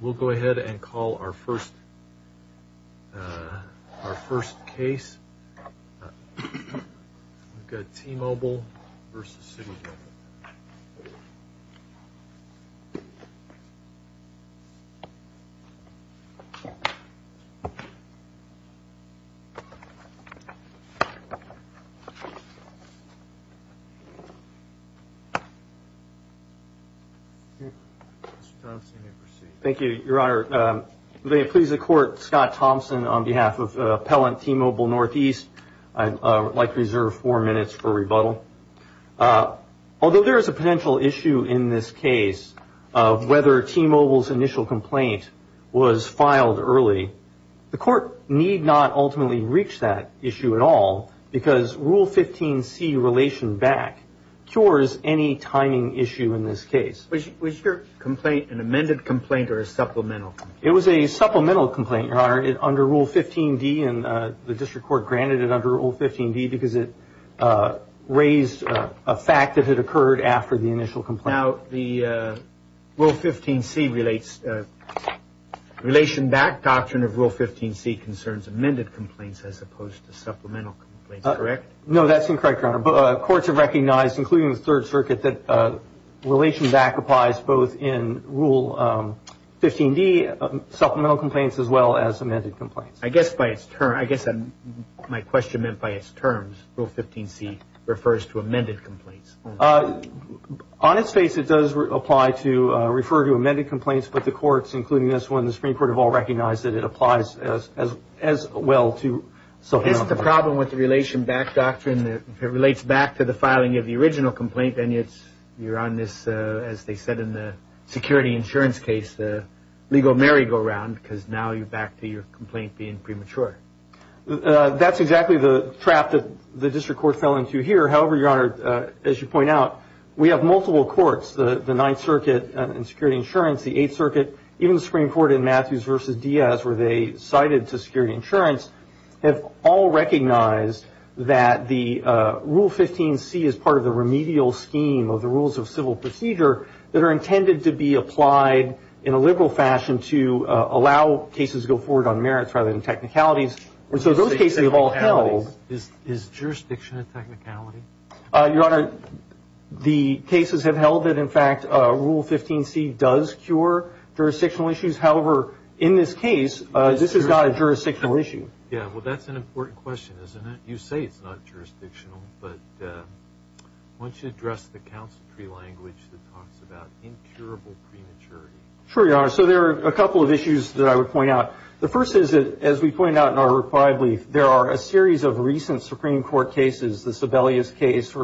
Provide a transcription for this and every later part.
We'll go ahead and call our first case. We've got T-Mobile v. City of Wilmington. Thank you, Your Honor. May it please the Court, Scott Thompson on behalf of Appellant T-Mobile NE. I'd like to reserve four minutes for rebuttal. Although there is a potential issue in this case of whether T-Mobile's initial complaint was filed early, the Court need not ultimately reach that issue at all, because Rule 15c, Relation Back, cures any timing issue in this case. Was your complaint an amended complaint or a supplemental? It was a supplemental complaint, Your Honor, under Rule 15d, and the District Court granted it under Rule 15d because it raised a fact that it occurred after the initial complaint. Now, the Rule 15c relates, Relation Back Doctrine of Rule 15c concerns amended complaints as opposed to supplemental complaints, correct? No, that's incorrect, Your Honor. Courts have recognized, including the Third Circuit, that Relation Back applies both in Rule 15d, supplemental complaints, as well as amended complaints. I guess by its term, I guess my question meant by its terms, Rule 15c refers to amended complaints. On its face, it does apply to refer to amended complaints, but the courts, including this one, the Supreme Court, have all recognized that it applies as well to supplemental complaints. Is the problem with the Relation Back Doctrine that it relates back to the filing of the original complaint, and yet you're on this, as they said in the security insurance case, the legal merry-go-round, because now you're back to your complaint being premature? That's exactly the trap that the District Court fell into here. However, Your Honor, as you point out, we have multiple courts, the Ninth Circuit in security insurance, the Eighth Circuit, even the Supreme Court in Matthews v. Diaz, where they cited to security insurance, have all recognized that the Rule 15c is part of the remedial scheme of the Rules of Civil Procedure that are intended to be applied in a liberal fashion to allow cases to go forward on merits rather than technicalities. So those cases have all held. Is jurisdiction a technicality? Your Honor, the cases have held that, in fact, Rule 15c does cure jurisdictional issues. However, in this case, this has got a jurisdictional issue. Yeah, well, that's an important question, isn't it? You say it's not jurisdictional, but why don't you address the counsel tree language that talks about incurable prematurity? Sure, Your Honor. So there are a couple of issues that I would point out. The first is, as we point out in our reply brief, there are a series of recent Supreme Court cases, the Sebelius case,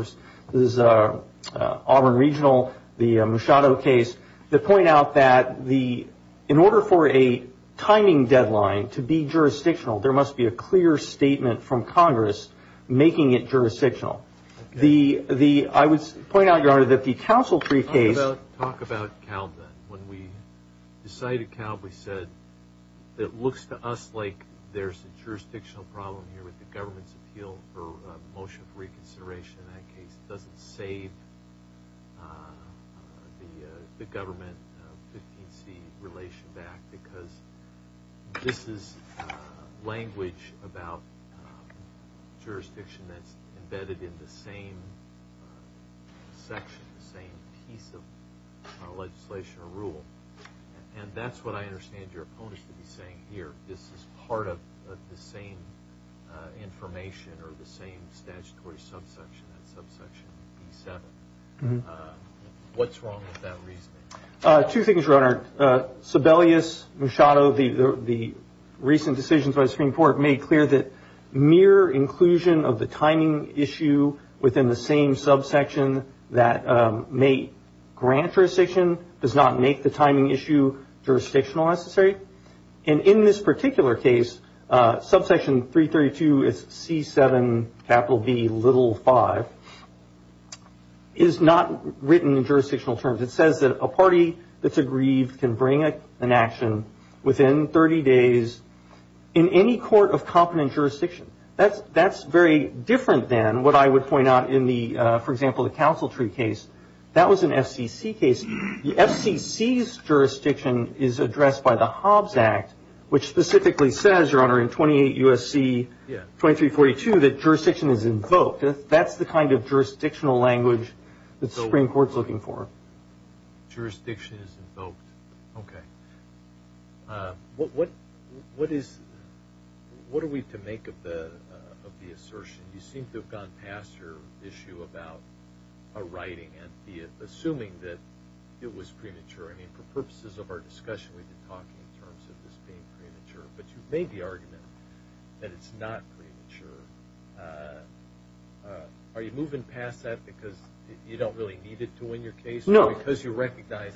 this Auburn Regional, the Musciato case, that point out that in order for a timing deadline to be jurisdictional, there must be a clear statement from Congress making it jurisdictional. I would point out, Your Honor, that the counsel tree case... Talk about Kalb, then. When we decided Kalb, we said, it looks to us like there's a jurisdictional problem here with the government's appeal for a motion for reconsideration in that case. It doesn't save the government 15c relation back because this is language about jurisdiction that's embedded in the same section, the same piece of legislation or rule. And that's what I understand your opponents to be saying here. This is part of the same information or the same statutory subsection, that subsection B7. What's wrong with that reasoning? Two things, Your Honor. Sebelius, Musciato, the recent decisions by Musciato make it clear that mere inclusion of the timing issue within the same subsection that may grant jurisdiction does not make the timing issue jurisdictional necessary. And in this particular case, subsection 332, it's C7 capital B little 5, is not written in jurisdictional terms. It says that a party that's aggrieved can bring an action within 30 days in any court of competent jurisdiction. That's very different than what I would point out in the, for example, the Council Tree case. That was an FCC case. The FCC's jurisdiction is addressed by the Hobbs Act, which specifically says, Your Honor, in 28 U.S.C. 2342 that jurisdiction is invoked. That's the kind of jurisdictional language that the Supreme Court's looking for. Jurisdiction is invoked. Okay. What is, what are we to make of the assertion? You seem to have gone past your issue about a writing and assuming that it was premature. I mean, for purposes of our discussion, we've been talking in terms of this being premature, but you've made the argument that it's not premature. Are you moving past that because you don't really need it to win your case? No. Because you recognize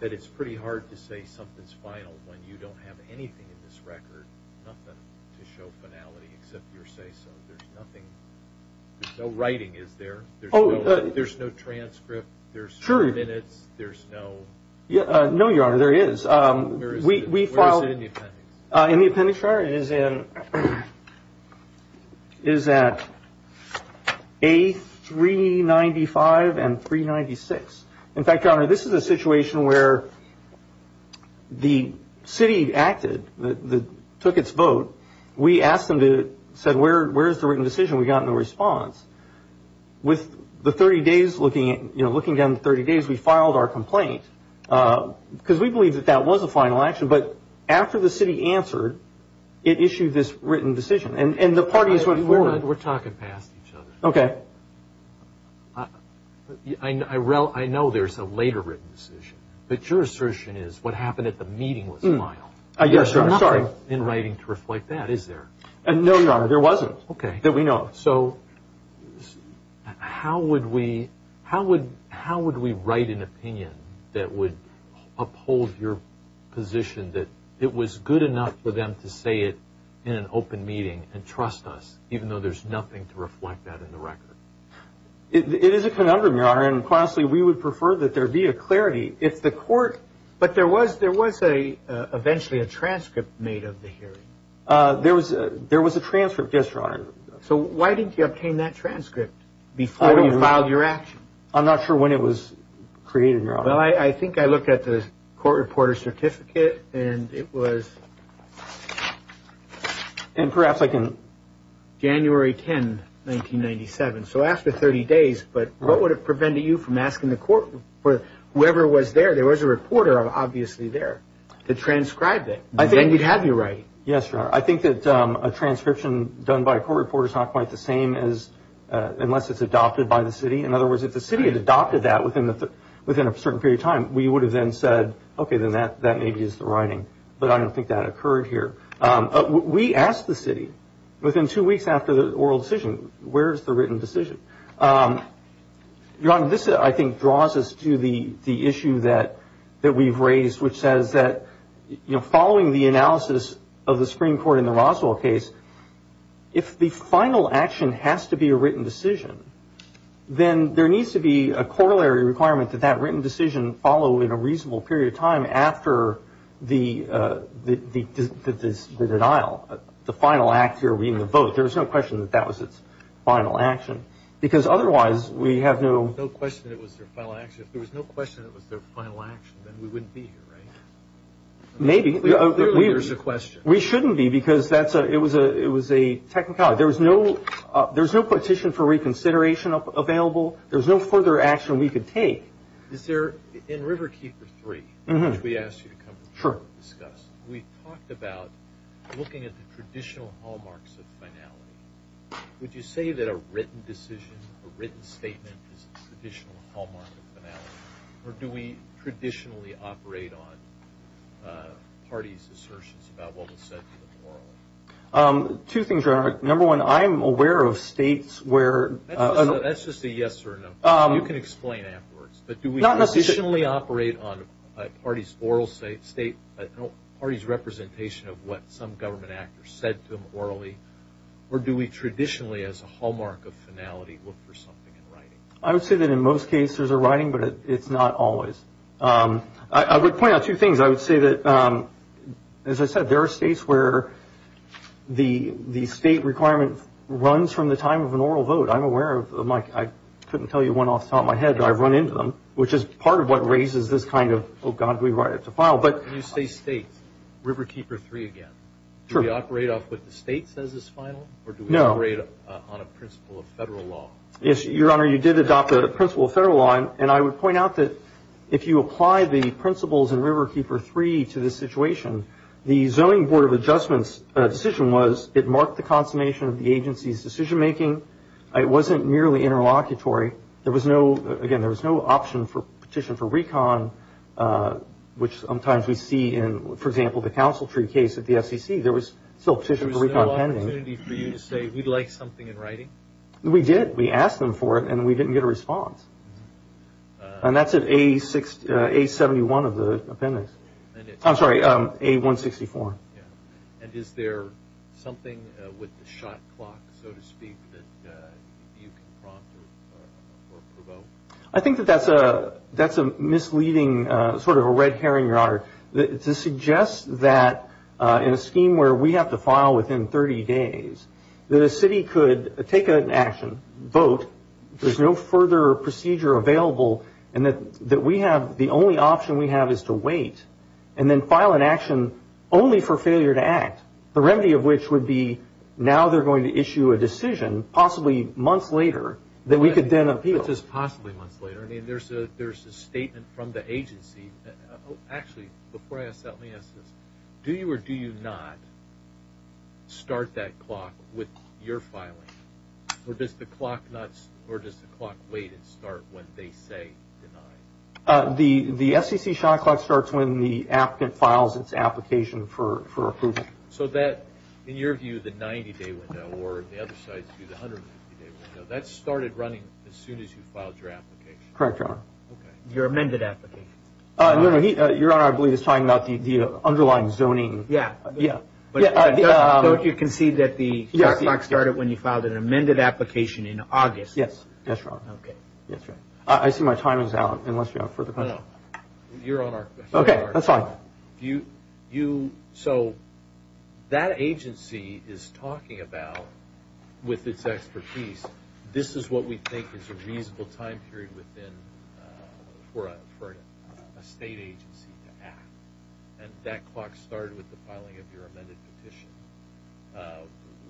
that it's pretty hard to say something's final when you don't have anything in this record, nothing to show finality except your say-so. There's nothing, there's no writing, is there? There's no transcript, there's no minutes, there's no... Sure. No, Your Honor, there is. Where is it? In the appendix. In the appendix, Your Honor, it is in, is at A395 and 396. In fact, Your Honor, this is a situation where the city acted, took its vote. We asked them to, said where is the written decision? We got no response. With the 30 days looking at, you know, looking down the 30 days, we filed our complaint because we believe that that was a final action. But after the city answered, it issued this written decision. And the parties... We're talking past each other. Okay. I know there's a later written decision, but your assertion is what happened at the meeting was final. Yes, Your Honor. There's nothing in writing to reflect that, is there? No, Your Honor, there wasn't. Okay. That we know of. So how would we write an opinion that would uphold your position that it was good enough for them to say it in an open meeting and trust us, even though there's nothing to reflect that in the record? It is a conundrum, Your Honor, and honestly, we would prefer that there be a clarity. If the court... But there was, there was a, eventually a transcript made of the hearing. There was a, there was a transcript, yes, Your Honor. So why didn't you obtain that transcript before you filed your action? I'm not sure when it was created, Your Honor. Well, I think I looked at the court reporter certificate and it was... And perhaps like in January 10, 1997. So after 30 days, but what would it prevent you from asking the court or whoever was there? There was a reporter obviously there to transcribe it. Then you'd have your writing. Yes, Your Honor. I think that a transcription done by a court reporter is not quite the same as, unless it's adopted by the city. In other words, if the city had adopted that within a certain period of time, we would have then said, okay, then that maybe is the writing. But I don't think that occurred here. We asked the city within two weeks after the oral decision, where's the written decision? Your Honor, this I think draws us to the issue that we've raised, which says that following the analysis of the Supreme Court in the Roswell case, if the final action has to be a written decision, then there needs to be a corollary requirement that that written decision follow in a reasonable period of time after the denial, the final act here being the vote. There's no question that that was its final action. Because otherwise we have no... No question it was their final action. If there was no question it was their final action, then we wouldn't be here, right? Maybe. Clearly there's a question. We shouldn't be because it was a technicality. There's no petition for reconsideration available. There's no further action we could take. Is there, in Riverkeeper 3, which we asked you to come and discuss, we talked about looking at the traditional hallmarks of finality. Would you say that a written decision, a written statement is a traditional hallmark of finality? Or do we traditionally operate on parties' assertions about what was said to them orally? Two things. Number one, I'm aware of states where... That's just a yes or a no. You can explain afterwards. Not necessarily. Do we traditionally operate on parties' oral state, parties' representation of what some government actors said to them orally? Or do we traditionally as a hallmark of finality look for something in writing? I would say that in most cases there's a writing, but it's not always. I would point out two As I said, there are states where the state requirement runs from the time of an oral vote. I'm aware of them. I couldn't tell you one off the top of my head, but I've run into them, which is part of what raises this kind of, oh God, do we write it to file? When you say states, Riverkeeper 3 again, do we operate off what the state says is final? No. Or do we operate on a principle of federal law? Your Honor, you did adopt a principle of federal law, and I would point out that if you apply the principles in Riverkeeper 3 to this situation, the Zoning Board of Adjustment's decision was it marked the consummation of the agency's decision making. It wasn't merely interlocutory. There was no, again, there was no option for petition for recon, which sometimes we see in, for example, the Council Tree case at the FCC. There was still a petition for recon pending. There was no opportunity for you to say, we'd like something in writing? We did. We asked them for it, and we didn't get a response. And that's at A71 of the appendix. I'm sorry, A164. And is there something with the shot clock, so to speak, that you can prompt or provoke? I think that that's a misleading sort of a red herring, Your Honor, to suggest that in a scheme where we have to file within 30 days, that a city could take an action, vote, there's no further procedure available, and that we have, the only option we have is to wait, and then file an action only for failure to act, the remedy of which would be now they're going to issue a decision, possibly months later, that we could then appeal. Which is possibly months later. I mean, there's a statement from the agency. Actually, before I ask that, let me ask this. Do you or do you not start that clock with your filing? Or does the clock wait and start when they say deny? The FCC shot clock starts when the applicant files its application for approval. So that, in your view, the 90-day window, or the other side's view, the 150-day window, that started running as soon as you filed your application? Correct, Your Honor. Your amended application. No, no, Your Honor, I believe he's talking about the underlying zoning. Yeah, yeah. But don't you concede that the clock started when you filed an amended application in August? Yes, that's right. Okay. I see my time is out, unless you have further questions. No, no. Your Honor. Okay, that's fine. You, so that agency is talking about, with its expertise, this is what we think is a state agency to act. And that clock started with the filing of your amended petition.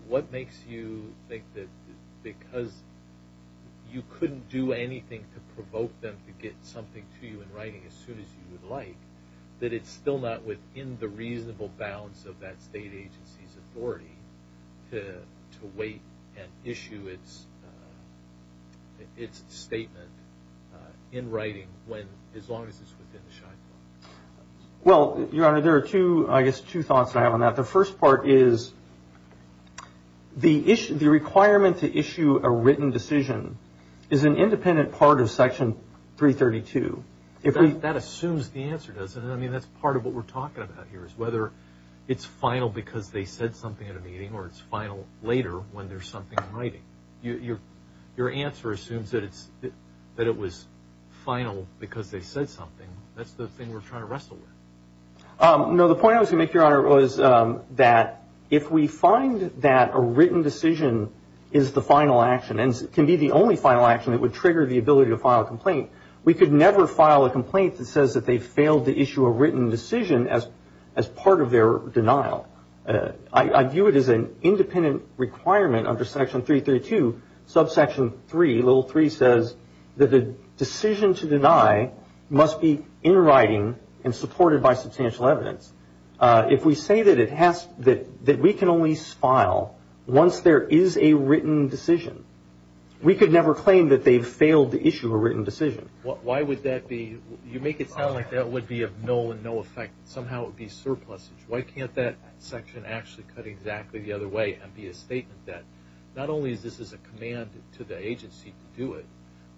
What makes you think that because you couldn't do anything to provoke them to get something to you in writing as soon as you would like, that it's still not within the reasonable balance of that state agency's authority to wait and issue its statement in writing when, as long as it's within the shining law? Well, Your Honor, there are two, I guess, two thoughts I have on that. The first part is the requirement to issue a written decision is an independent part of Section 332. That assumes the answer, doesn't it? I mean, that's part of what we're talking about here, is whether it's final because they said something at a meeting, or it's final later when there's something in writing. Your answer assumes that it was final because they said something. That's the thing we're trying to wrestle with. No, the point I was going to make, Your Honor, was that if we find that a written decision is the final action, and can be the only final action that would trigger the ability to file a complaint, we could never file a complaint that says that they failed to issue a written decision as part of their denial. I view it as an independent requirement under Section 332. Subsection 3, little 3, says that the decision to deny must be in writing and supported by substantial evidence. If we say that we can only file once there is a written decision, we could never claim that they've failed to issue a written decision. Why would that be? You make it sound like that would be of null and no effect. Somehow it would be surplusage. Why can't that section actually cut exactly the other way and be a statement that not only is this a command to the agency to do it,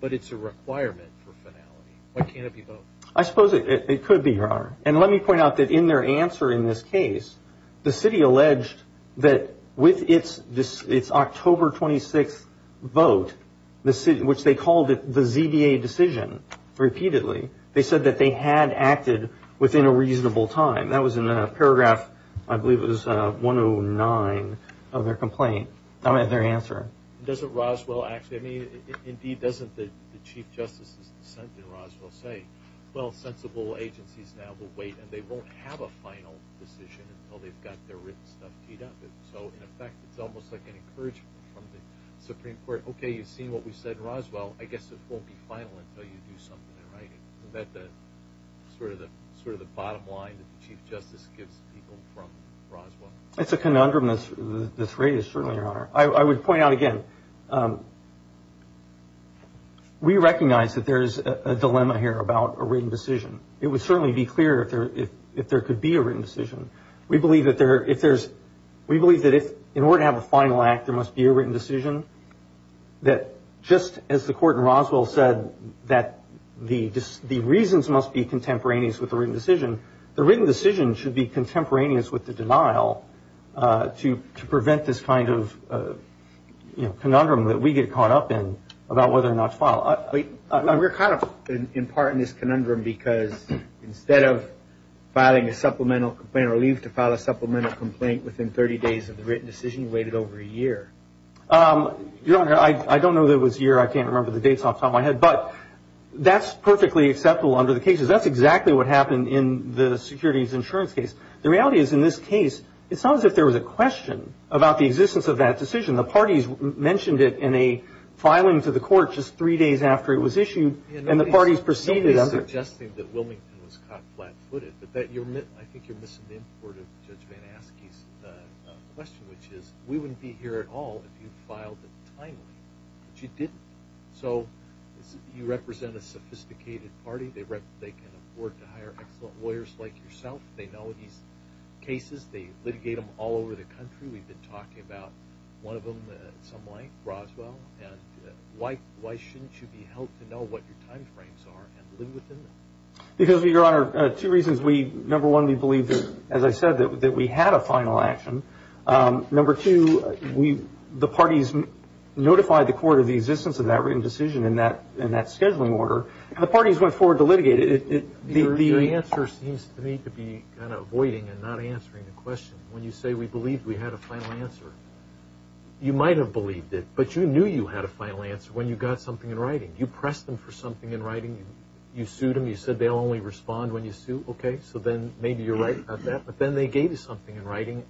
but it's a requirement for finality? Why can't it be both? I suppose it could be, Your Honor. Let me point out that in their answer in this case, the city alleged that with its October 26 vote, which they called it the ZBA decision repeatedly, they said that they had acted within a reasonable time. That was in paragraph, I believe it was 109 of their complaint. That was their answer. Doesn't Roswell actually... Indeed, doesn't the Chief Justice's dissent in Roswell say, well, sensible agencies now will wait and they won't have a final decision until they've got their written stuff teed up? In effect, it's almost like an encouragement from the Supreme Court. Okay, you've seen what we said in Roswell. I guess it won't be final until you do something in writing. Isn't that sort of the bottom line that the Chief Justice gives people from Roswell? It's a conundrum that's raised, certainly, Your Honor. I would point out again, we recognize that there's a dilemma here about a written decision. It would certainly be clear if there could be a written decision. We believe that in order to have a final act, there must be a written decision. Just as the Court in Roswell said that the reasons must be contemporaneous with the written decision, the written decision should be contemporaneous with the denial to prevent this kind of conundrum that we get caught up in about whether or not to file. We're caught up in part in this conundrum because instead of filing a supplemental complaint or leave to file a supplemental complaint within 30 days of the written decision, you Your Honor, I don't know that it was a year. I can't remember the dates off the top of my head. That's perfectly acceptable under the cases. That's exactly what happened in the securities insurance case. The reality is, in this case, it's not as if there was a question about the existence of that decision. The parties mentioned it in a filing to the Court just three days after it was issued and the parties proceeded on it. Nobody's suggesting that Wilmington was caught flat-footed. I think you're missing the importance of Judge Van Aske's question, which is, we wouldn't be here at all if you filed it timely, but you didn't. So, you represent a sophisticated party. They can afford to hire excellent lawyers like yourself. They know these cases. They litigate them all over the country. We've been talking about one of them at some length, Roswell. Why shouldn't you be helped to know what your time frames are and live within them? Because, Your Honor, two reasons. Number one, we believe that, as I said, that we had a final action. Number two, the parties notified the Court of the existence of that written decision and that scheduling order, and the parties went forward to litigate it. Your answer seems to me to be kind of voiding and not answering the question. When you say we believed we had a final answer, you might have believed it, but you knew you had a final answer when you got something in writing. You pressed them for something in writing. You sued them. You said they'll only respond when you sue. Okay, so then maybe you're right about that, but then they gave you something in writing.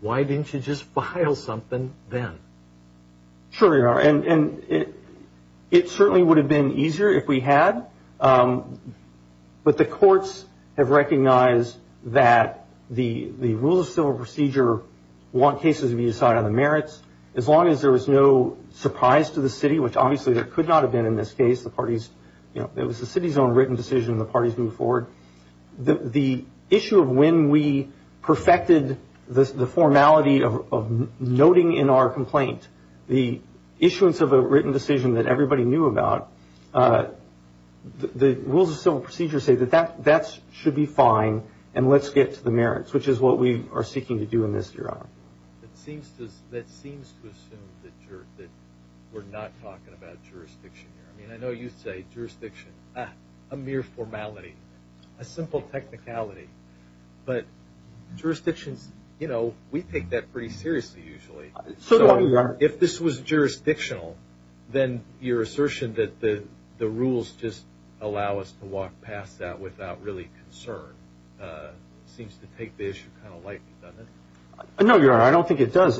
Why didn't you just file something then? Sure, Your Honor, and it certainly would have been easier if we had, but the courts have recognized that the rules of civil procedure want cases to be decided on the merits. As long as there was no surprise to the city, which obviously there could not have been in this case. It was the city's own written decision and the parties moved forward. The issue of when we perfected the formality of noting in our complaint the issuance of a written decision that everybody knew about, the rules of civil procedure say that that should be fine and let's get to the merits, which is what we are seeking to do in this, Your Honor. That seems to assume that we're not talking about jurisdiction here. I know you say jurisdiction. A mere formality. A simple technicality. But jurisdictions, you know, we take that pretty seriously usually. So if this was jurisdictional, then your assertion that the rules just allow us to walk past that without really concern seems to take the issue kind of lightly, doesn't it? No, Your Honor, I don't think it does.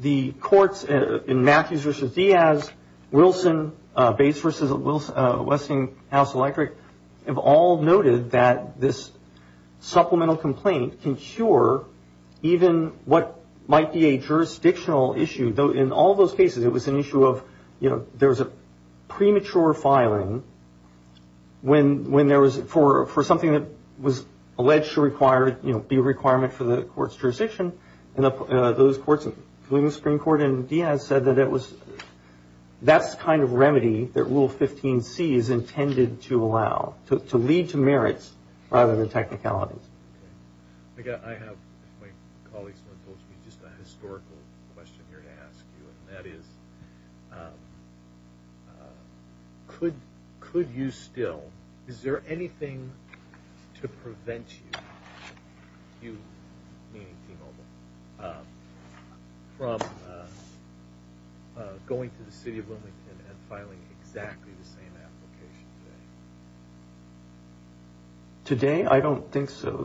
The courts in Matthews v. Diaz, Wilson, Bates v. Westinghouse Electric have all noted that this supplemental complaint can cure even what might be a jurisdictional issue. Though in all those cases it was an issue of, you know, there was a premature filing for something that was alleged to be a requirement for the court's jurisdiction. And those courts, including the Supreme Court and Diaz, said that that's the kind of remedy that Rule 15c is intended to allow. To lead to merits rather than technicalities. I have, if my colleagues want to talk to me, just a historical question here to ask you. And that is, could you still, is there anything to prevent you, meaning T-Mobile, from going to the City of Wilmington and filing exactly the same application today? Today, I don't think so.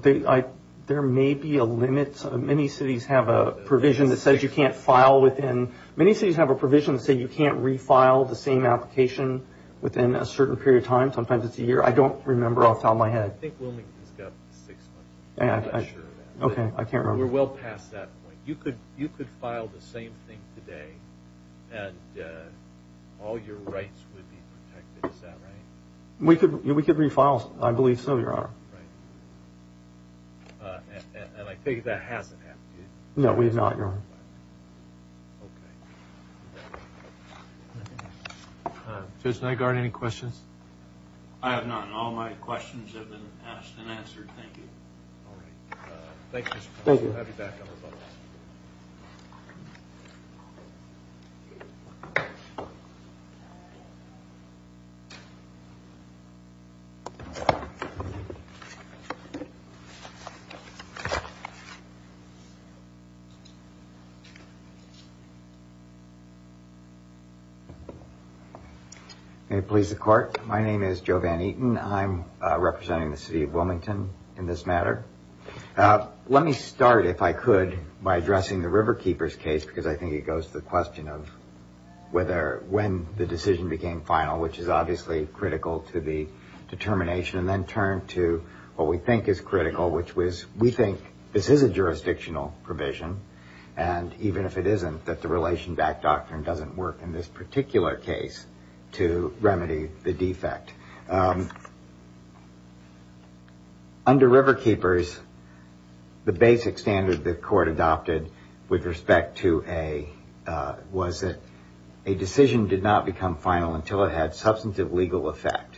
There may be a limit. Many cities have a provision that says you can't file within, many cities have a provision that says you can't refile the same application within a certain period of time. Sometimes it's a year. I don't remember off the top of my head. I think Wilmington's got six months. I'm not sure. Okay, I can't remember. We're well past that point. You could file the same thing today and all your rights would be protected. Is that right? We could refile. I believe so, Your Honor. Right. And I take it that hasn't happened yet? No, we have not, Your Honor. Okay. Judge Nygaard, any questions? I have none. All my questions have been asked and answered. Thank you. All right. Thank you. Thank you. May it please the Court. My name is Joe Van Eaton. I'm representing the city of Wilmington in this matter. Let me start, if I could, by addressing the Riverkeepers case because I think it goes to the question of when the decision became final, which is obviously critical to the determination, and then turn to what we think is critical, which was we think this is a jurisdictional provision and even if it isn't, that the relation-backed doctrine doesn't work in this particular case to remedy the defect. Under Riverkeepers, the basic standard the Court adopted with respect to a decision did not become final until it had substantive legal effect.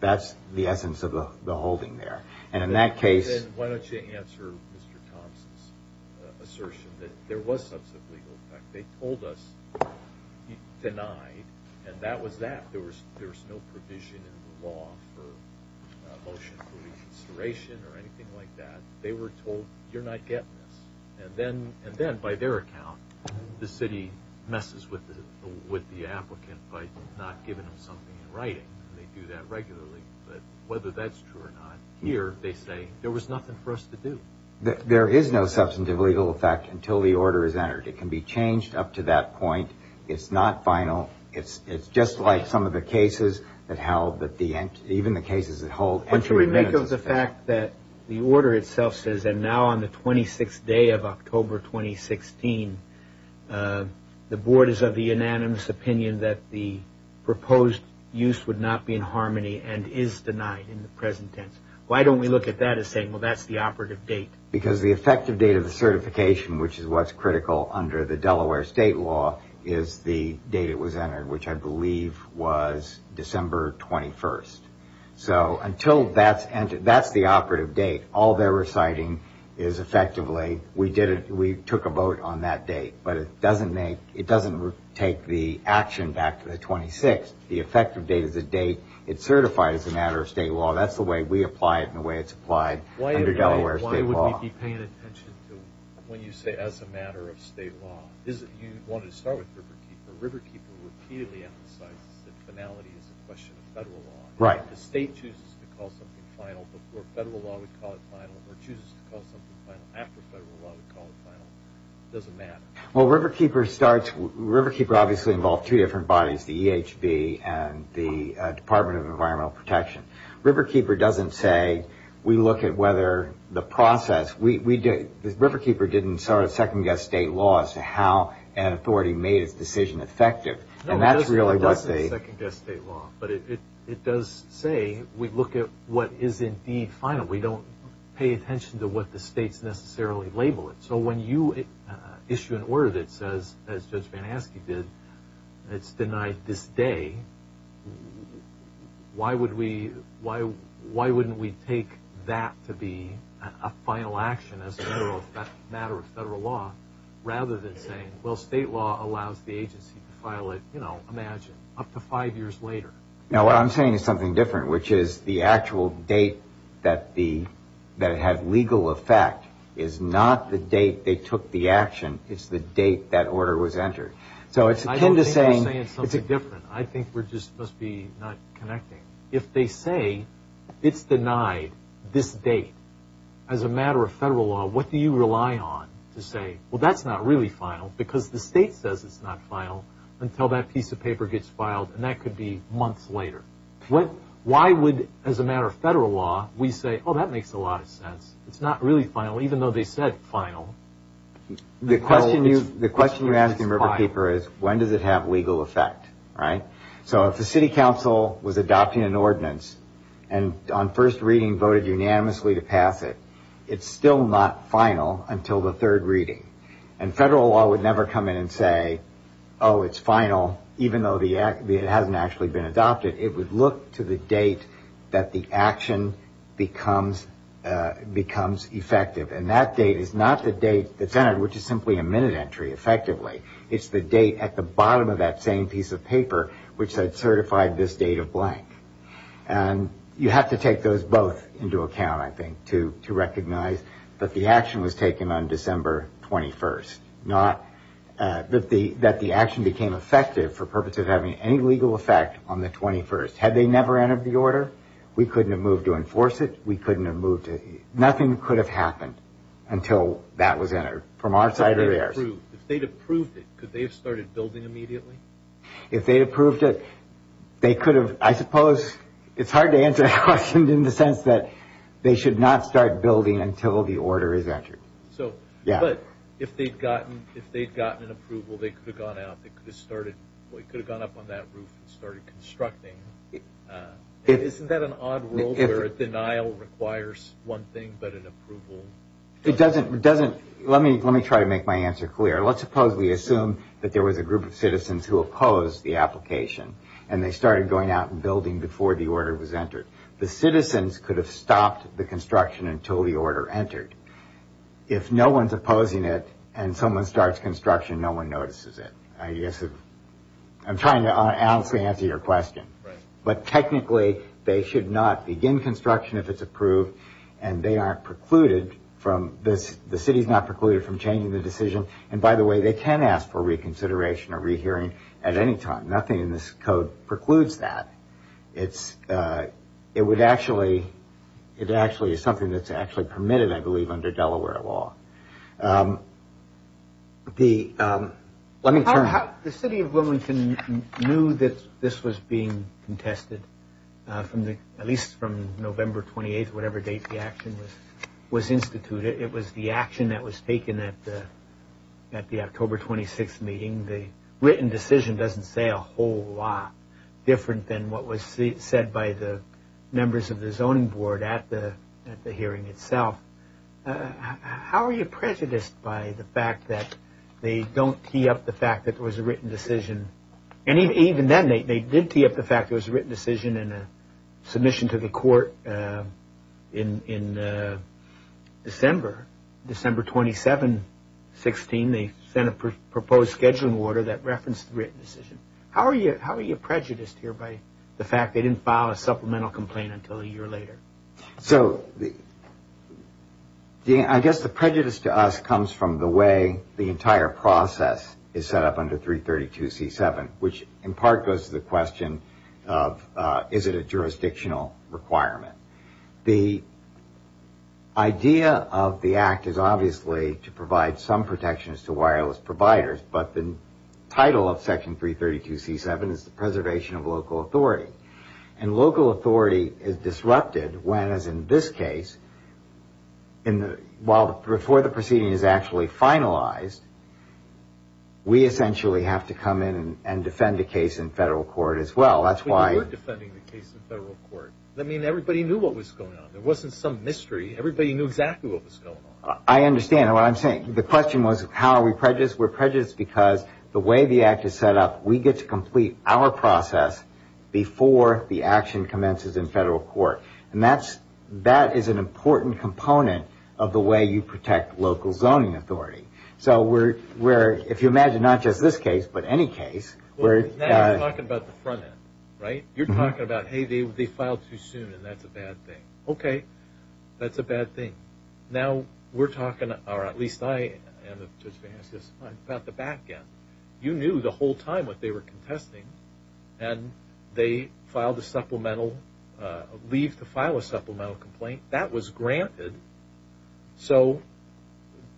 That's the essence of the holding there. And in that case... Then why don't you answer Mr. Thompson's assertion that there was substantive legal effect. They told us it denied, and that was that. There was no provision in the law for motion for reconsideration or anything like that. They were told, you're not getting this. And then by their account, the city messes with the applicant by not giving them something in writing. They do that regularly, but whether that's true or not, here they say there was nothing for us to do. There is no substantive legal effect until the order is entered. It can be changed up to that point. It's not final. It's just like some of the cases that held, even the cases that hold... But should we make of the fact that the order itself says that now on the 26th day of October 2016, the Board is of the unanimous opinion that the proposed use would not be in harmony and is denied in the present tense. Why don't we look at that as saying, well, that's the operative date? Because the effective date of the certification, which is what's critical under the Delaware state law, is the date it was entered, which I believe was December 21st. So until that's entered, that's the operative date. All they're reciting is effectively, we took a vote on that date. But it doesn't take the action back to the 26th. The effective date is the date it's certified as a matter of state law. and the way it's applied under Delaware state law. Why would we be paying attention to when you say as a matter of state law? You wanted to start with Riverkeeper. Riverkeeper repeatedly emphasizes that finality is a question of federal law. Right. The state chooses to call something final before federal law would call it final or chooses to call something final after federal law would call it final. It doesn't matter. Well, Riverkeeper starts... Riverkeeper obviously involved two different bodies, the EHB and the Department of Environmental Protection. Riverkeeper doesn't say, we look at whether the process... Riverkeeper didn't start a second-guess state law as to how an authority made its decision effective. No, it doesn't start a second-guess state law. But it does say, we look at what is indeed final. We don't pay attention to what the states necessarily label it. So when you issue an order that says, as Judge Van Aske did, it's denied this day, why wouldn't we take that to be a final action as a matter of federal law rather than saying, well, state law allows the agency to file it, you know, imagine, up to five years later. No, what I'm saying is something different, which is the actual date that it had legal effect is not the date they took the action. It's the date that order was entered. So it's akin to saying... I don't think we're saying something different. I think we just must be not connecting. If they say it's denied this date as a matter of federal law, what do you rely on to say, well, that's not really final, because the state says it's not final until that piece of paper gets filed and that could be months later. Why would, as a matter of federal law, we say, oh, that makes a lot of sense. It's not really final, even though they said final. The question you ask in Riverpaper is when does it have legal effect? So if the city council was adopting an ordinance and on first reading voted unanimously to pass it, it's still not final until the third reading. And federal law would never come in and say, oh, it's final even though it hasn't actually been adopted. It would look to the date that the action becomes effective. And that date is not the date that's entered, which is simply a minute entry effectively. It's the date at the bottom of that same piece of paper which said certified this date of blank. And you have to take those both into account, I think, to recognize that the action was taken on December 21st. Not that the action became effective for purposes of having any legal effect on the 21st. Had they never entered the order, we couldn't have moved to enforce it. Nothing could have happened until that was entered from our side or theirs. If they'd approved it, could they have started building immediately? If they'd approved it, they could have, I suppose it's hard to answer that question in the sense that they should not start building until the order is entered. So, but, if they'd gotten an approval, they could have gone out, they could have started up on that roof and started constructing. Isn't that an odd world where denial requires one thing but an approval? It doesn't, it doesn't. Let me try to make my answer clear. Let's suppose we assume that there was a group of citizens who opposed the application and they started going out and building before the order was entered. The citizens could have stopped the construction until the order entered. If no one's opposing it and someone starts construction, no one notices it. I guess I'm trying to honestly answer your question. But technically, they should not begin construction if it's approved and they aren't precluded from, the city's not precluded from changing the decision. And by the way, they can ask for reconsideration or rehearing at any time. Nothing in this code precludes that. It would actually it actually is something that's actually permitted, I believe, under Delaware law. The, let me turn The city of Wilmington knew that this was being contested, at least from November 28th, whatever date the action was instituted. It was the action that was taken at the October 26th meeting. The written decision doesn't say a whole lot different than what was said by the members of the zoning board at the hearing itself. How are you prejudiced by the fact that they don't tee up the fact that there was a written decision and even then, they did tee up the fact that there was a written decision and a submission to the court in December December 27 16, they sent a proposed scheduling order that referenced the written decision. How are you prejudiced here by the fact that they didn't file a supplemental complaint until a year later? So, I guess the prejudice to us comes from the way the entire process is set up under 332C7, which in part goes to the question of is it a jurisdictional requirement? The idea of the act is obviously to provide some protections to wireless providers but the title of section 332C7 is the preservation of local authority. And local authority is disrupted when, as in this case, while before the proceeding is actually finalized we essentially have to come in and defend the case in federal court as well. But you were defending the case in federal court. I mean, everybody knew what was going on. There wasn't some mystery. Everybody knew exactly what was going on. I understand what I'm saying. The question was, how are we prejudiced? We're prejudiced because the way the act is set up we get to complete our process before the action commences in federal court. And that is an important component of the way you protect local zoning authority. If you imagine not just this case, but any case Now you're talking about the front end. You're talking about, hey, they filed too soon and that's a bad thing. Okay, that's a bad thing. Now we're talking, or at least I am, about the back end. You knew the whole time what they were contesting and they filed a supplemental leave to file a supplemental complaint. That was granted. So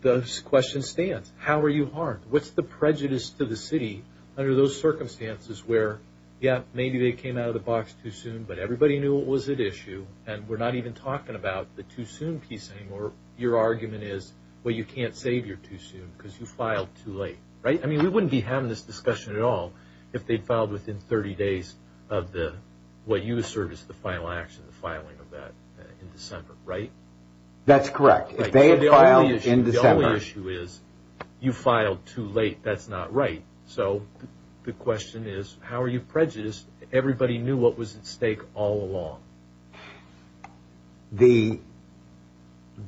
the question stands. How are you harmed? What's the prejudice to the city under those circumstances where yeah, maybe they came out of the box too soon but everybody knew what was at issue and we're not even talking about the too soon piece anymore. Your argument is, well, you can't save your too soon because you filed too late. I mean, we wouldn't be having this discussion at all if they'd filed within 30 days of what you assert is the final action in the filing of that in December, right? That's correct. The only issue is you filed too late. That's not right. So the question is, how are you prejudiced? Everybody knew what was at stake all along. The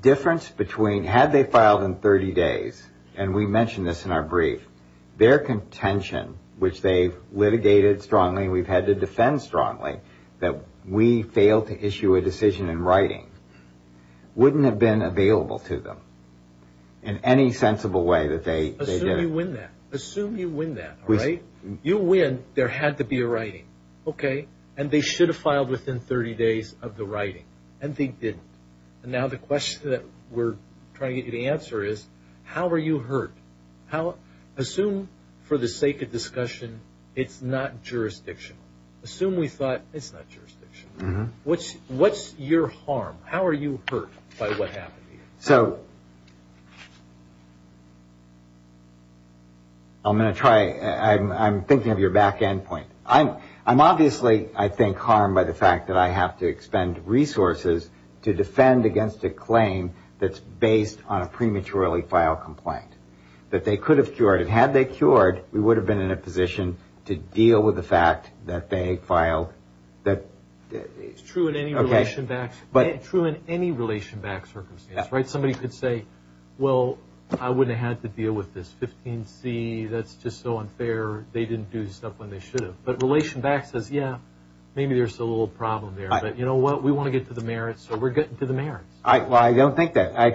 difference between, had they filed in 30 days, and we mentioned this in our brief, their contention which they've litigated strongly and we've had to defend strongly that we failed to issue a decision in writing wouldn't have been available to them in any sensible way that they did. Assume you win that. You win, there had to be a writing. Okay, and they should have filed within 30 days of the writing. And they didn't. Now the question that we're trying to get you to answer is, how are you hurt? Assume, for the sake of discussion, it's not jurisdictional. Assume we thought it's not jurisdictional. What's your harm? How are you hurt by what happened? So I'm going to try, I'm thinking of your back end point. I'm obviously, I think, harmed by the fact that I have to expend resources to defend against a claim that's based on a prematurely filed complaint that they could have cured. Had they cured, we would have been in a position to deal with the fact that they filed It's true in any relation back circumstance. Somebody could say well, I wouldn't have had to deal with this 15C, that's just so unfair, they didn't do stuff when they should have. But relation back says yeah, maybe there's a little problem there but you know what, we want to get to the merits so we're getting to the merits. I don't think that. I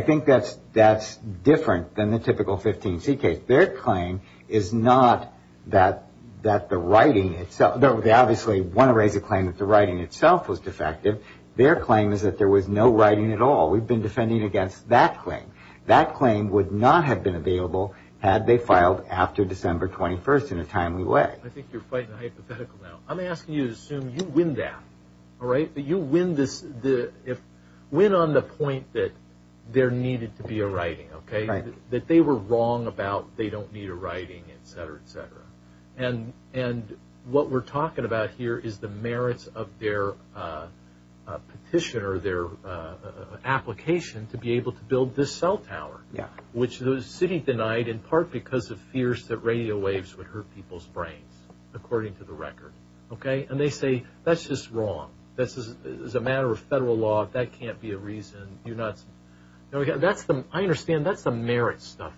think that's different than the typical 15C Their claim is not that the writing itself, they obviously want to raise a claim that the writing itself was defective their claim is that there was no writing at all we've been defending against that claim that claim would not have been available had they filed after December 21st in a timely way I think you're fighting a hypothetical now I'm asking you to assume you win that alright, that you win this win on the point that there needed to be a writing that they were wrong about they don't need a writing, etc., etc. and what we're talking about here is the merits of their petition or their application to be able to build this cell tower, which the city denied in part because of fears that radio waves would hurt people's brains according to the record and they say that's just wrong this is a matter of federal law that can't be a reason you're nuts I understand that's the merits stuff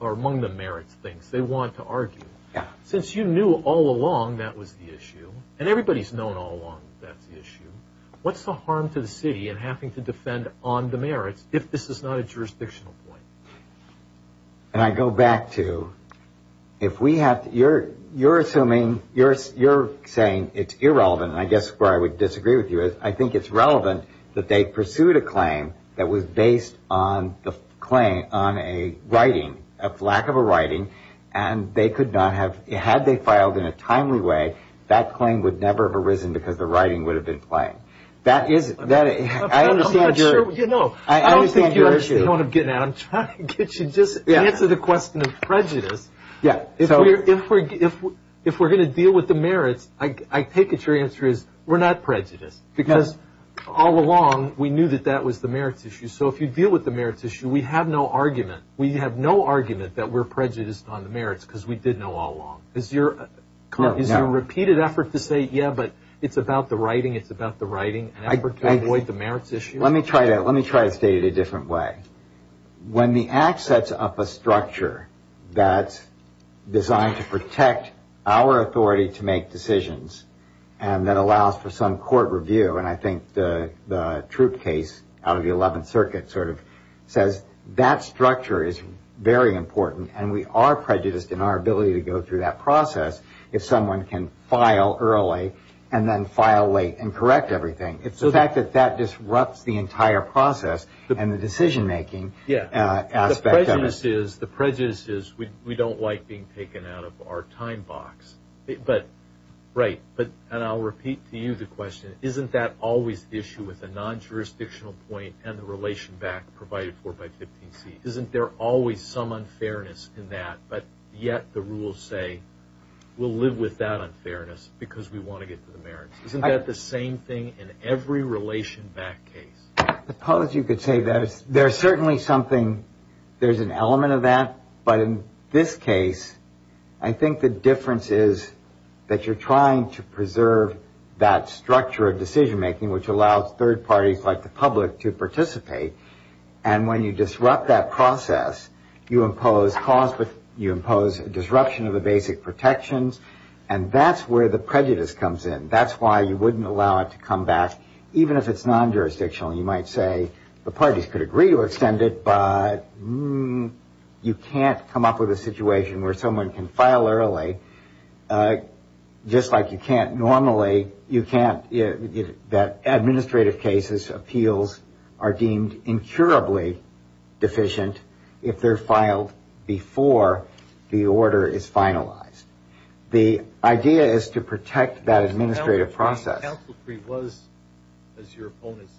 or among the merits things they want to argue since you knew all along that was the issue and everybody's known all along that's the issue what's the harm to the city in having to defend on the merits if this is not a jurisdictional point and I go back to if we have you're assuming you're saying it's irrelevant I guess where I would disagree with you is I think it's relevant that they pursued a claim that was based on a writing a lack of a writing and they could not have had they filed in a timely way that claim would never have arisen because the writing would have been plain I understand your I don't think you understand what I'm getting at I'm trying to get you to just answer the question of prejudice if we're going to deal with the merits I take it your answer is we're not prejudiced because all along we knew that was the merits issue so if you deal with the merits issue we have no argument we have no argument that we're prejudiced on the merits because we did know all along is your repeated effort to say yeah but it's about the writing it's about the writing to avoid the merits issue let me try to state it a different way when the act sets up a structure that's designed to protect our authority to make decisions and that allows for some court review and I think the truth case out of the 11th circuit sort of says that structure is very important and we are prejudiced in our ability to go through that process if someone can file early and then file late and correct everything it's the fact that that disrupts the entire process and the decision making the prejudice is we don't like being taken out of our time box and I'll repeat to you the question isn't that always the issue with a non-jurisdictional point and the relation back provided for by 15C isn't there always some unfairness in that but yet the rules say we'll live with that unfairness because we want to get to the merits isn't that the same thing in every relation back case I suppose you could say that there's certainly something there's an element of that but in this case I think the difference is that you're trying to preserve that structure of decision making which allows third parties like the public to participate and when you disrupt that process you impose disruption of the basic protections and that's where the prejudice comes in that's why you wouldn't allow it to come back even if it's non-jurisdictional you might say the parties could agree to extend it but you can't come up with a situation where someone can file early just like you can't normally you can't that administrative cases appeals are deemed incurably deficient if they're filed before the order is finalized the idea is to protect that administrative process counsel free was as your opponents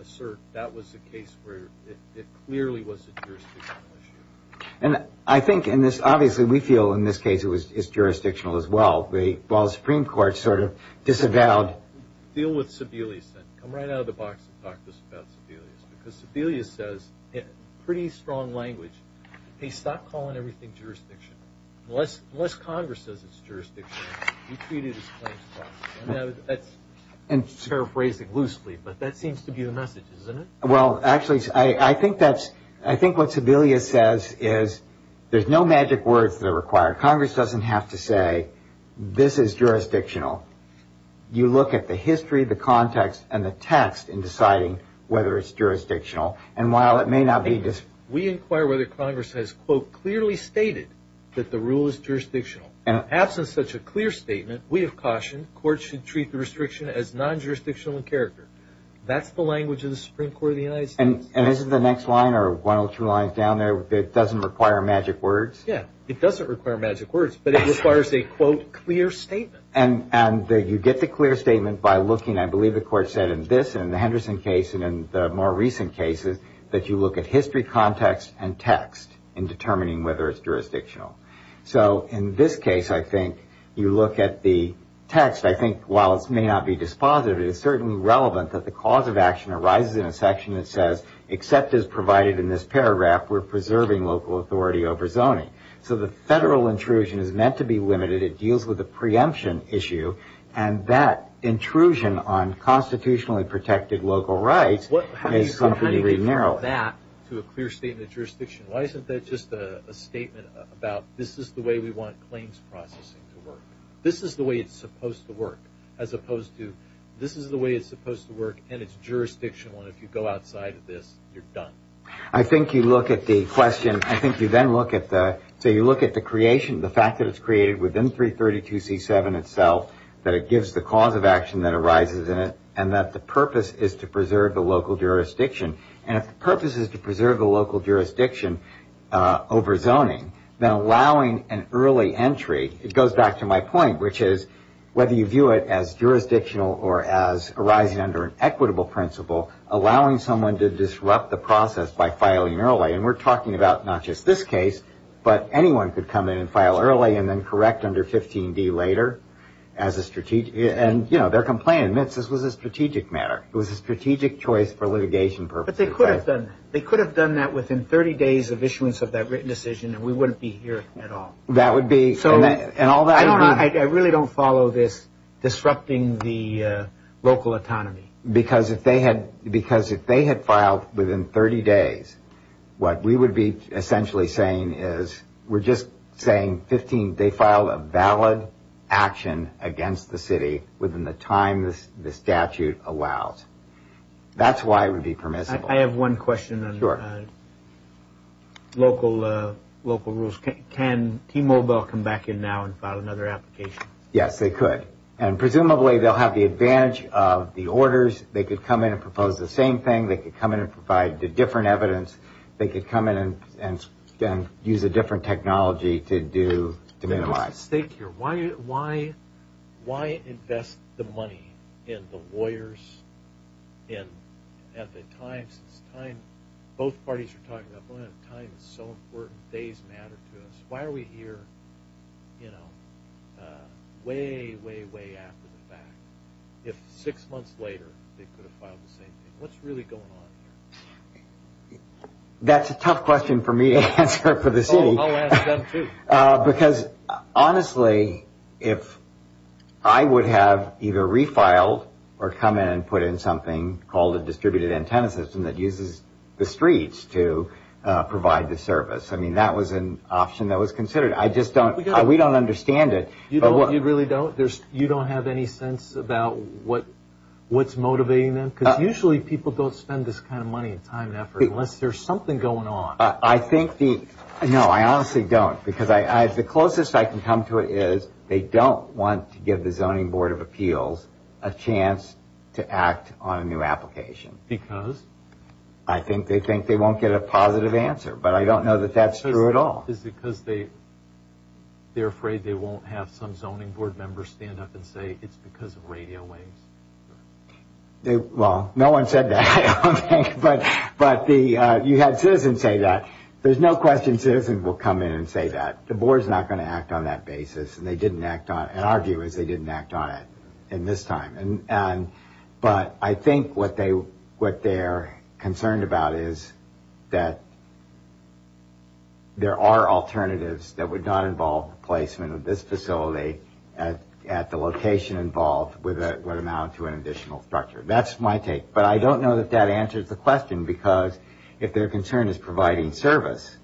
assert that was the case where it clearly was a jurisdictional issue and I think in this obviously we feel in this case it was jurisdictional as well while the supreme court sort of disavowed deal with Sebelius then come right out of the box and talk to us about Sebelius because Sebelius says in pretty strong language hey stop calling everything jurisdiction unless congress says it's jurisdiction he treated his claims properly that's paraphrasing loosely but that seems to be the message isn't it? well actually I think that's I think what Sebelius says is there's no magic words that are required congress doesn't have to say this is jurisdictional you look at the history the context and the text in deciding whether it's jurisdictional and while it may not be we inquire whether congress has quote clearly stated that the rule is jurisdictional and absent such a clear statement we have cautioned courts should treat the restriction as non-jurisdictional in character that's the language of the supreme court of the United States and isn't the next line or one or two lines down there that doesn't require magic words? yeah it doesn't require magic words but it requires a quote clear statement and you get the clear statement by looking I believe the court said in this and the Henderson case and in the more recent cases that you look at history context and text in determining whether it's jurisdictional so in this case I think you look at the text I think while it may not be dispositive it's certainly relevant that the cause of action arises in a section that says except as provided in this paragraph we're preserving local authority over zoning so the federal intrusion is meant to be limited it deals with the preemption issue and that intrusion on constitutionally protected local rights is to some degree narrow why isn't that just a statement about this is the way we want claims processing to work this is the way it's supposed to work as opposed to this is the way it's supposed to work and it's jurisdictional and if you go outside of this you're done I think you look at the question so you look at the creation the fact that it's created within 332 c7 itself that it gives the cause of action that arises in it and that the purpose is to preserve the local jurisdiction and if the purpose is to preserve the local jurisdiction over zoning then allowing an early entry it goes back to my point which is whether you view it as jurisdictional or as arising under an equitable principle allowing someone to disrupt the process by filing early and we're talking about not just this case but anyone could come in and file early and then correct under 15d later as a strategic and you know their complaint admits this was a strategic matter it was a strategic choice for litigation purposes but they could have done that within 30 days of issuance of that written decision and we wouldn't be here at all that would be I really don't follow this disrupting the local autonomy because if they had filed within 30 days what we would be essentially saying is we're just saying they filed a valid action against the city within the time the statute allows that's why it would be permissible I have one question local rules can T-Mobile come back in now and file another application yes they could presumably they'll have the advantage of the orders they could come in and propose the same thing they could come in and provide different evidence they could come in and use a different technology to do why invest the money in the lawyers at the time both parties are talking about time is so important days matter to us why are we here you know way way way after the fact if 6 months later they could have filed the same thing what's really going on here that's a tough question for me to answer for the city because honestly if I would have either refiled or come in and put in something called a distributed antenna system that uses the streets to provide the service I mean that was an option that was considered we don't understand it you really don't you don't have any sense about what's motivating them usually people don't spend this kind of money unless there's something going on I think no I honestly don't the closest I can come to it is they don't want to give the zoning board of appeals a chance to act on a new application because I think they think they won't get a positive answer but I don't know that that's true at all is it because they're afraid they won't have some zoning board member stand up and say it's because of radio waves well no one said that but you had citizens say that there's no question citizens will come in and say that the board's not going to act on that basis and they didn't act on it and our view is they didn't act on it in this time but I think what they're concerned about is that there are alternatives that would not involve the placement of this facility at the location involved would amount to an additional structure that's my take but I don't know if that answers the question because if their concern is providing service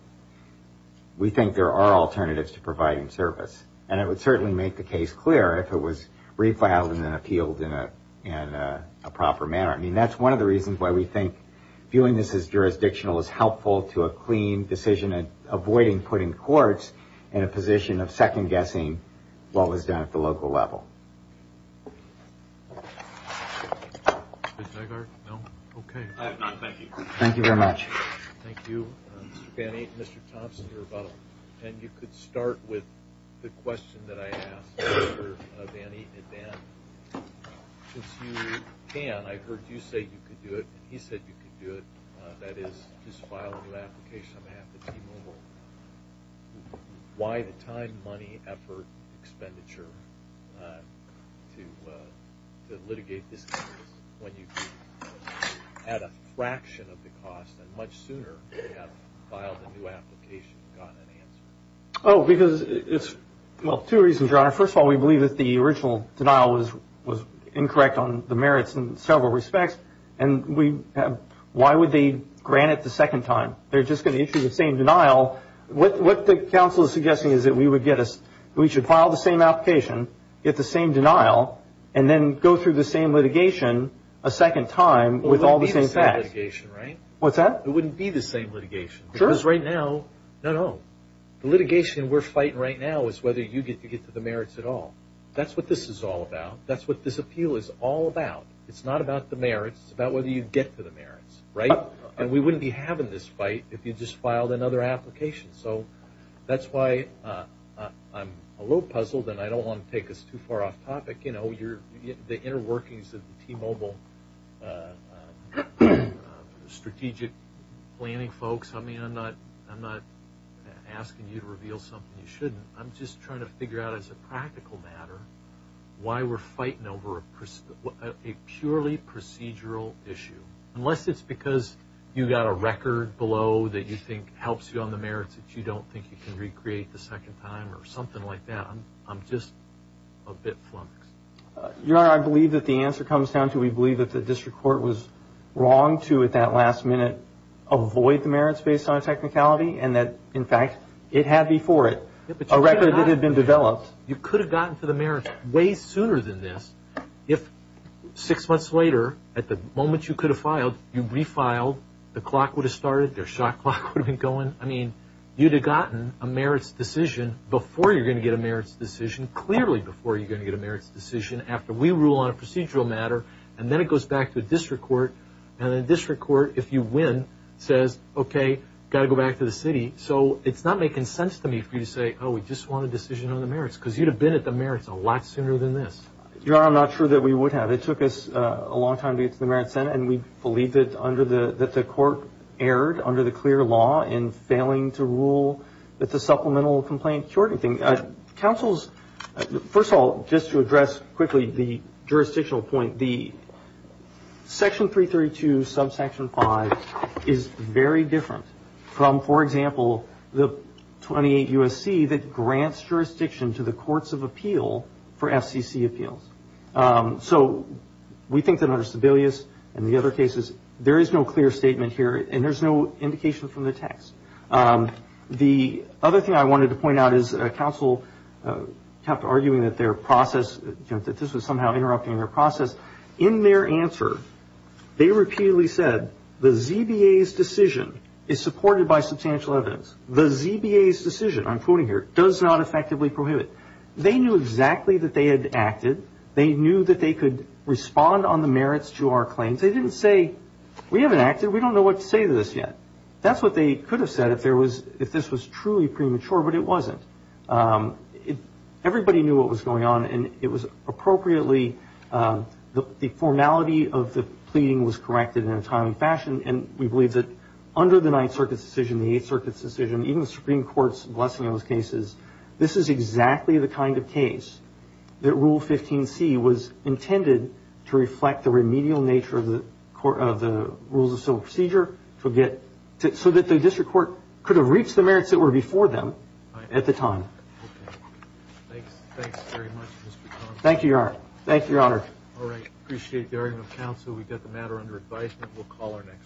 we think there are alternatives to providing service and it would certainly make the case clear if it was refiled and appealed in a proper manner I mean that's one of the reasons why we think viewing this as jurisdictional is helpful to a clean decision and avoiding putting courts in a position of second guessing what was done at the local level Mr. Jagart? No? Okay. I have none. Thank you. Thank you very much. Thank you Mr. Banny Mr. Thompson you're about and you could start with the question that I asked Mr. Banny in advance since you can I heard you say you could do it he said you could do it that is just filing an application on behalf of T-Mobile why the time, money, effort expenditure to litigate this case when you had a fraction of the cost and much sooner filed a new application gotten an answer? Oh because well two reasons your honor first of all we believe that the original denial was incorrect on the merits in several respects and we why would they grant it the second time they're just going to issue the same denial what the counsel is suggesting we should file the same application, get the same denial and then go through the same litigation a second time with all the same facts. It wouldn't be the same litigation right? What's that? It wouldn't be the same litigation because right now the litigation we're fighting right now is whether you get to get to the merits at all that's what this is all about that's what this appeal is all about it's not about the merits, it's about whether you get to the merits right? And we wouldn't be having this fight if you just filed another application so that's why I'm a little puzzled and I don't want to take us too far off topic the inner workings of the T-Mobile strategic planning folks I mean I'm not asking you to reveal something you shouldn't I'm just trying to figure out as a practical matter why we're fighting over a purely procedural issue unless it's because you got a record below that you think helps you on the merits that you don't think you can recreate the second time or something like that I'm just a bit flummoxed. Your honor I believe that the answer comes down to we believe that the district court was wrong to at that last minute avoid the merits based on technicality and that in fact it had before it a record that had been developed you could have gotten to the merits way sooner than this if six months later at the moment you could have filed you refiled, the clock would have started, their shot clock would have been going I mean you'd have gotten a merits decision before you're going to get a merits decision clearly before you're going to get a merits decision after we rule on a procedural matter and then it goes back to the district court and the district court if you win says okay gotta go back to the city so it's not making sense to me for you to say oh we just want a decision on the merits because you'd have been at the merits a lot sooner than this Your honor I'm not sure that we would have. It took us a long time to get to the merits and we believed that the court erred under the clear law in failing to rule that the supplemental complaint cured anything. Councils first of all just to address quickly the jurisdictional point the section 332 subsection 5 is very different from for example the 28 USC that grants jurisdiction to the courts of appeal for FCC appeals so we think that under there is no clear statement here and there's no indication from the text the other thing I wanted to point out is council kept arguing that their process that this was somehow interrupting their process in their answer they repeatedly said the ZBA's decision is supported by substantial evidence. The ZBA's decision I'm quoting here does not effectively prohibit. They knew exactly that they had acted. They knew that they could respond on the merits to our claims. They didn't say we haven't acted we don't know what to say to this yet that's what they could have said if this was truly premature but it wasn't everybody knew what was going on and it was appropriately the formality of the pleading was corrected in a timely fashion and we believe that under the 9th Circuit's decision the 8th Circuit's decision even the Supreme Court's blessing on those cases this is exactly the kind of case that Rule 15C was intended to reflect the remedial nature of the rules of civil procedure so that the district court could have reached the merits that were before them at the time Thanks very much Mr. Connell Thank you Your Honor Appreciate the argument of council we got the matter under advisement we'll call our next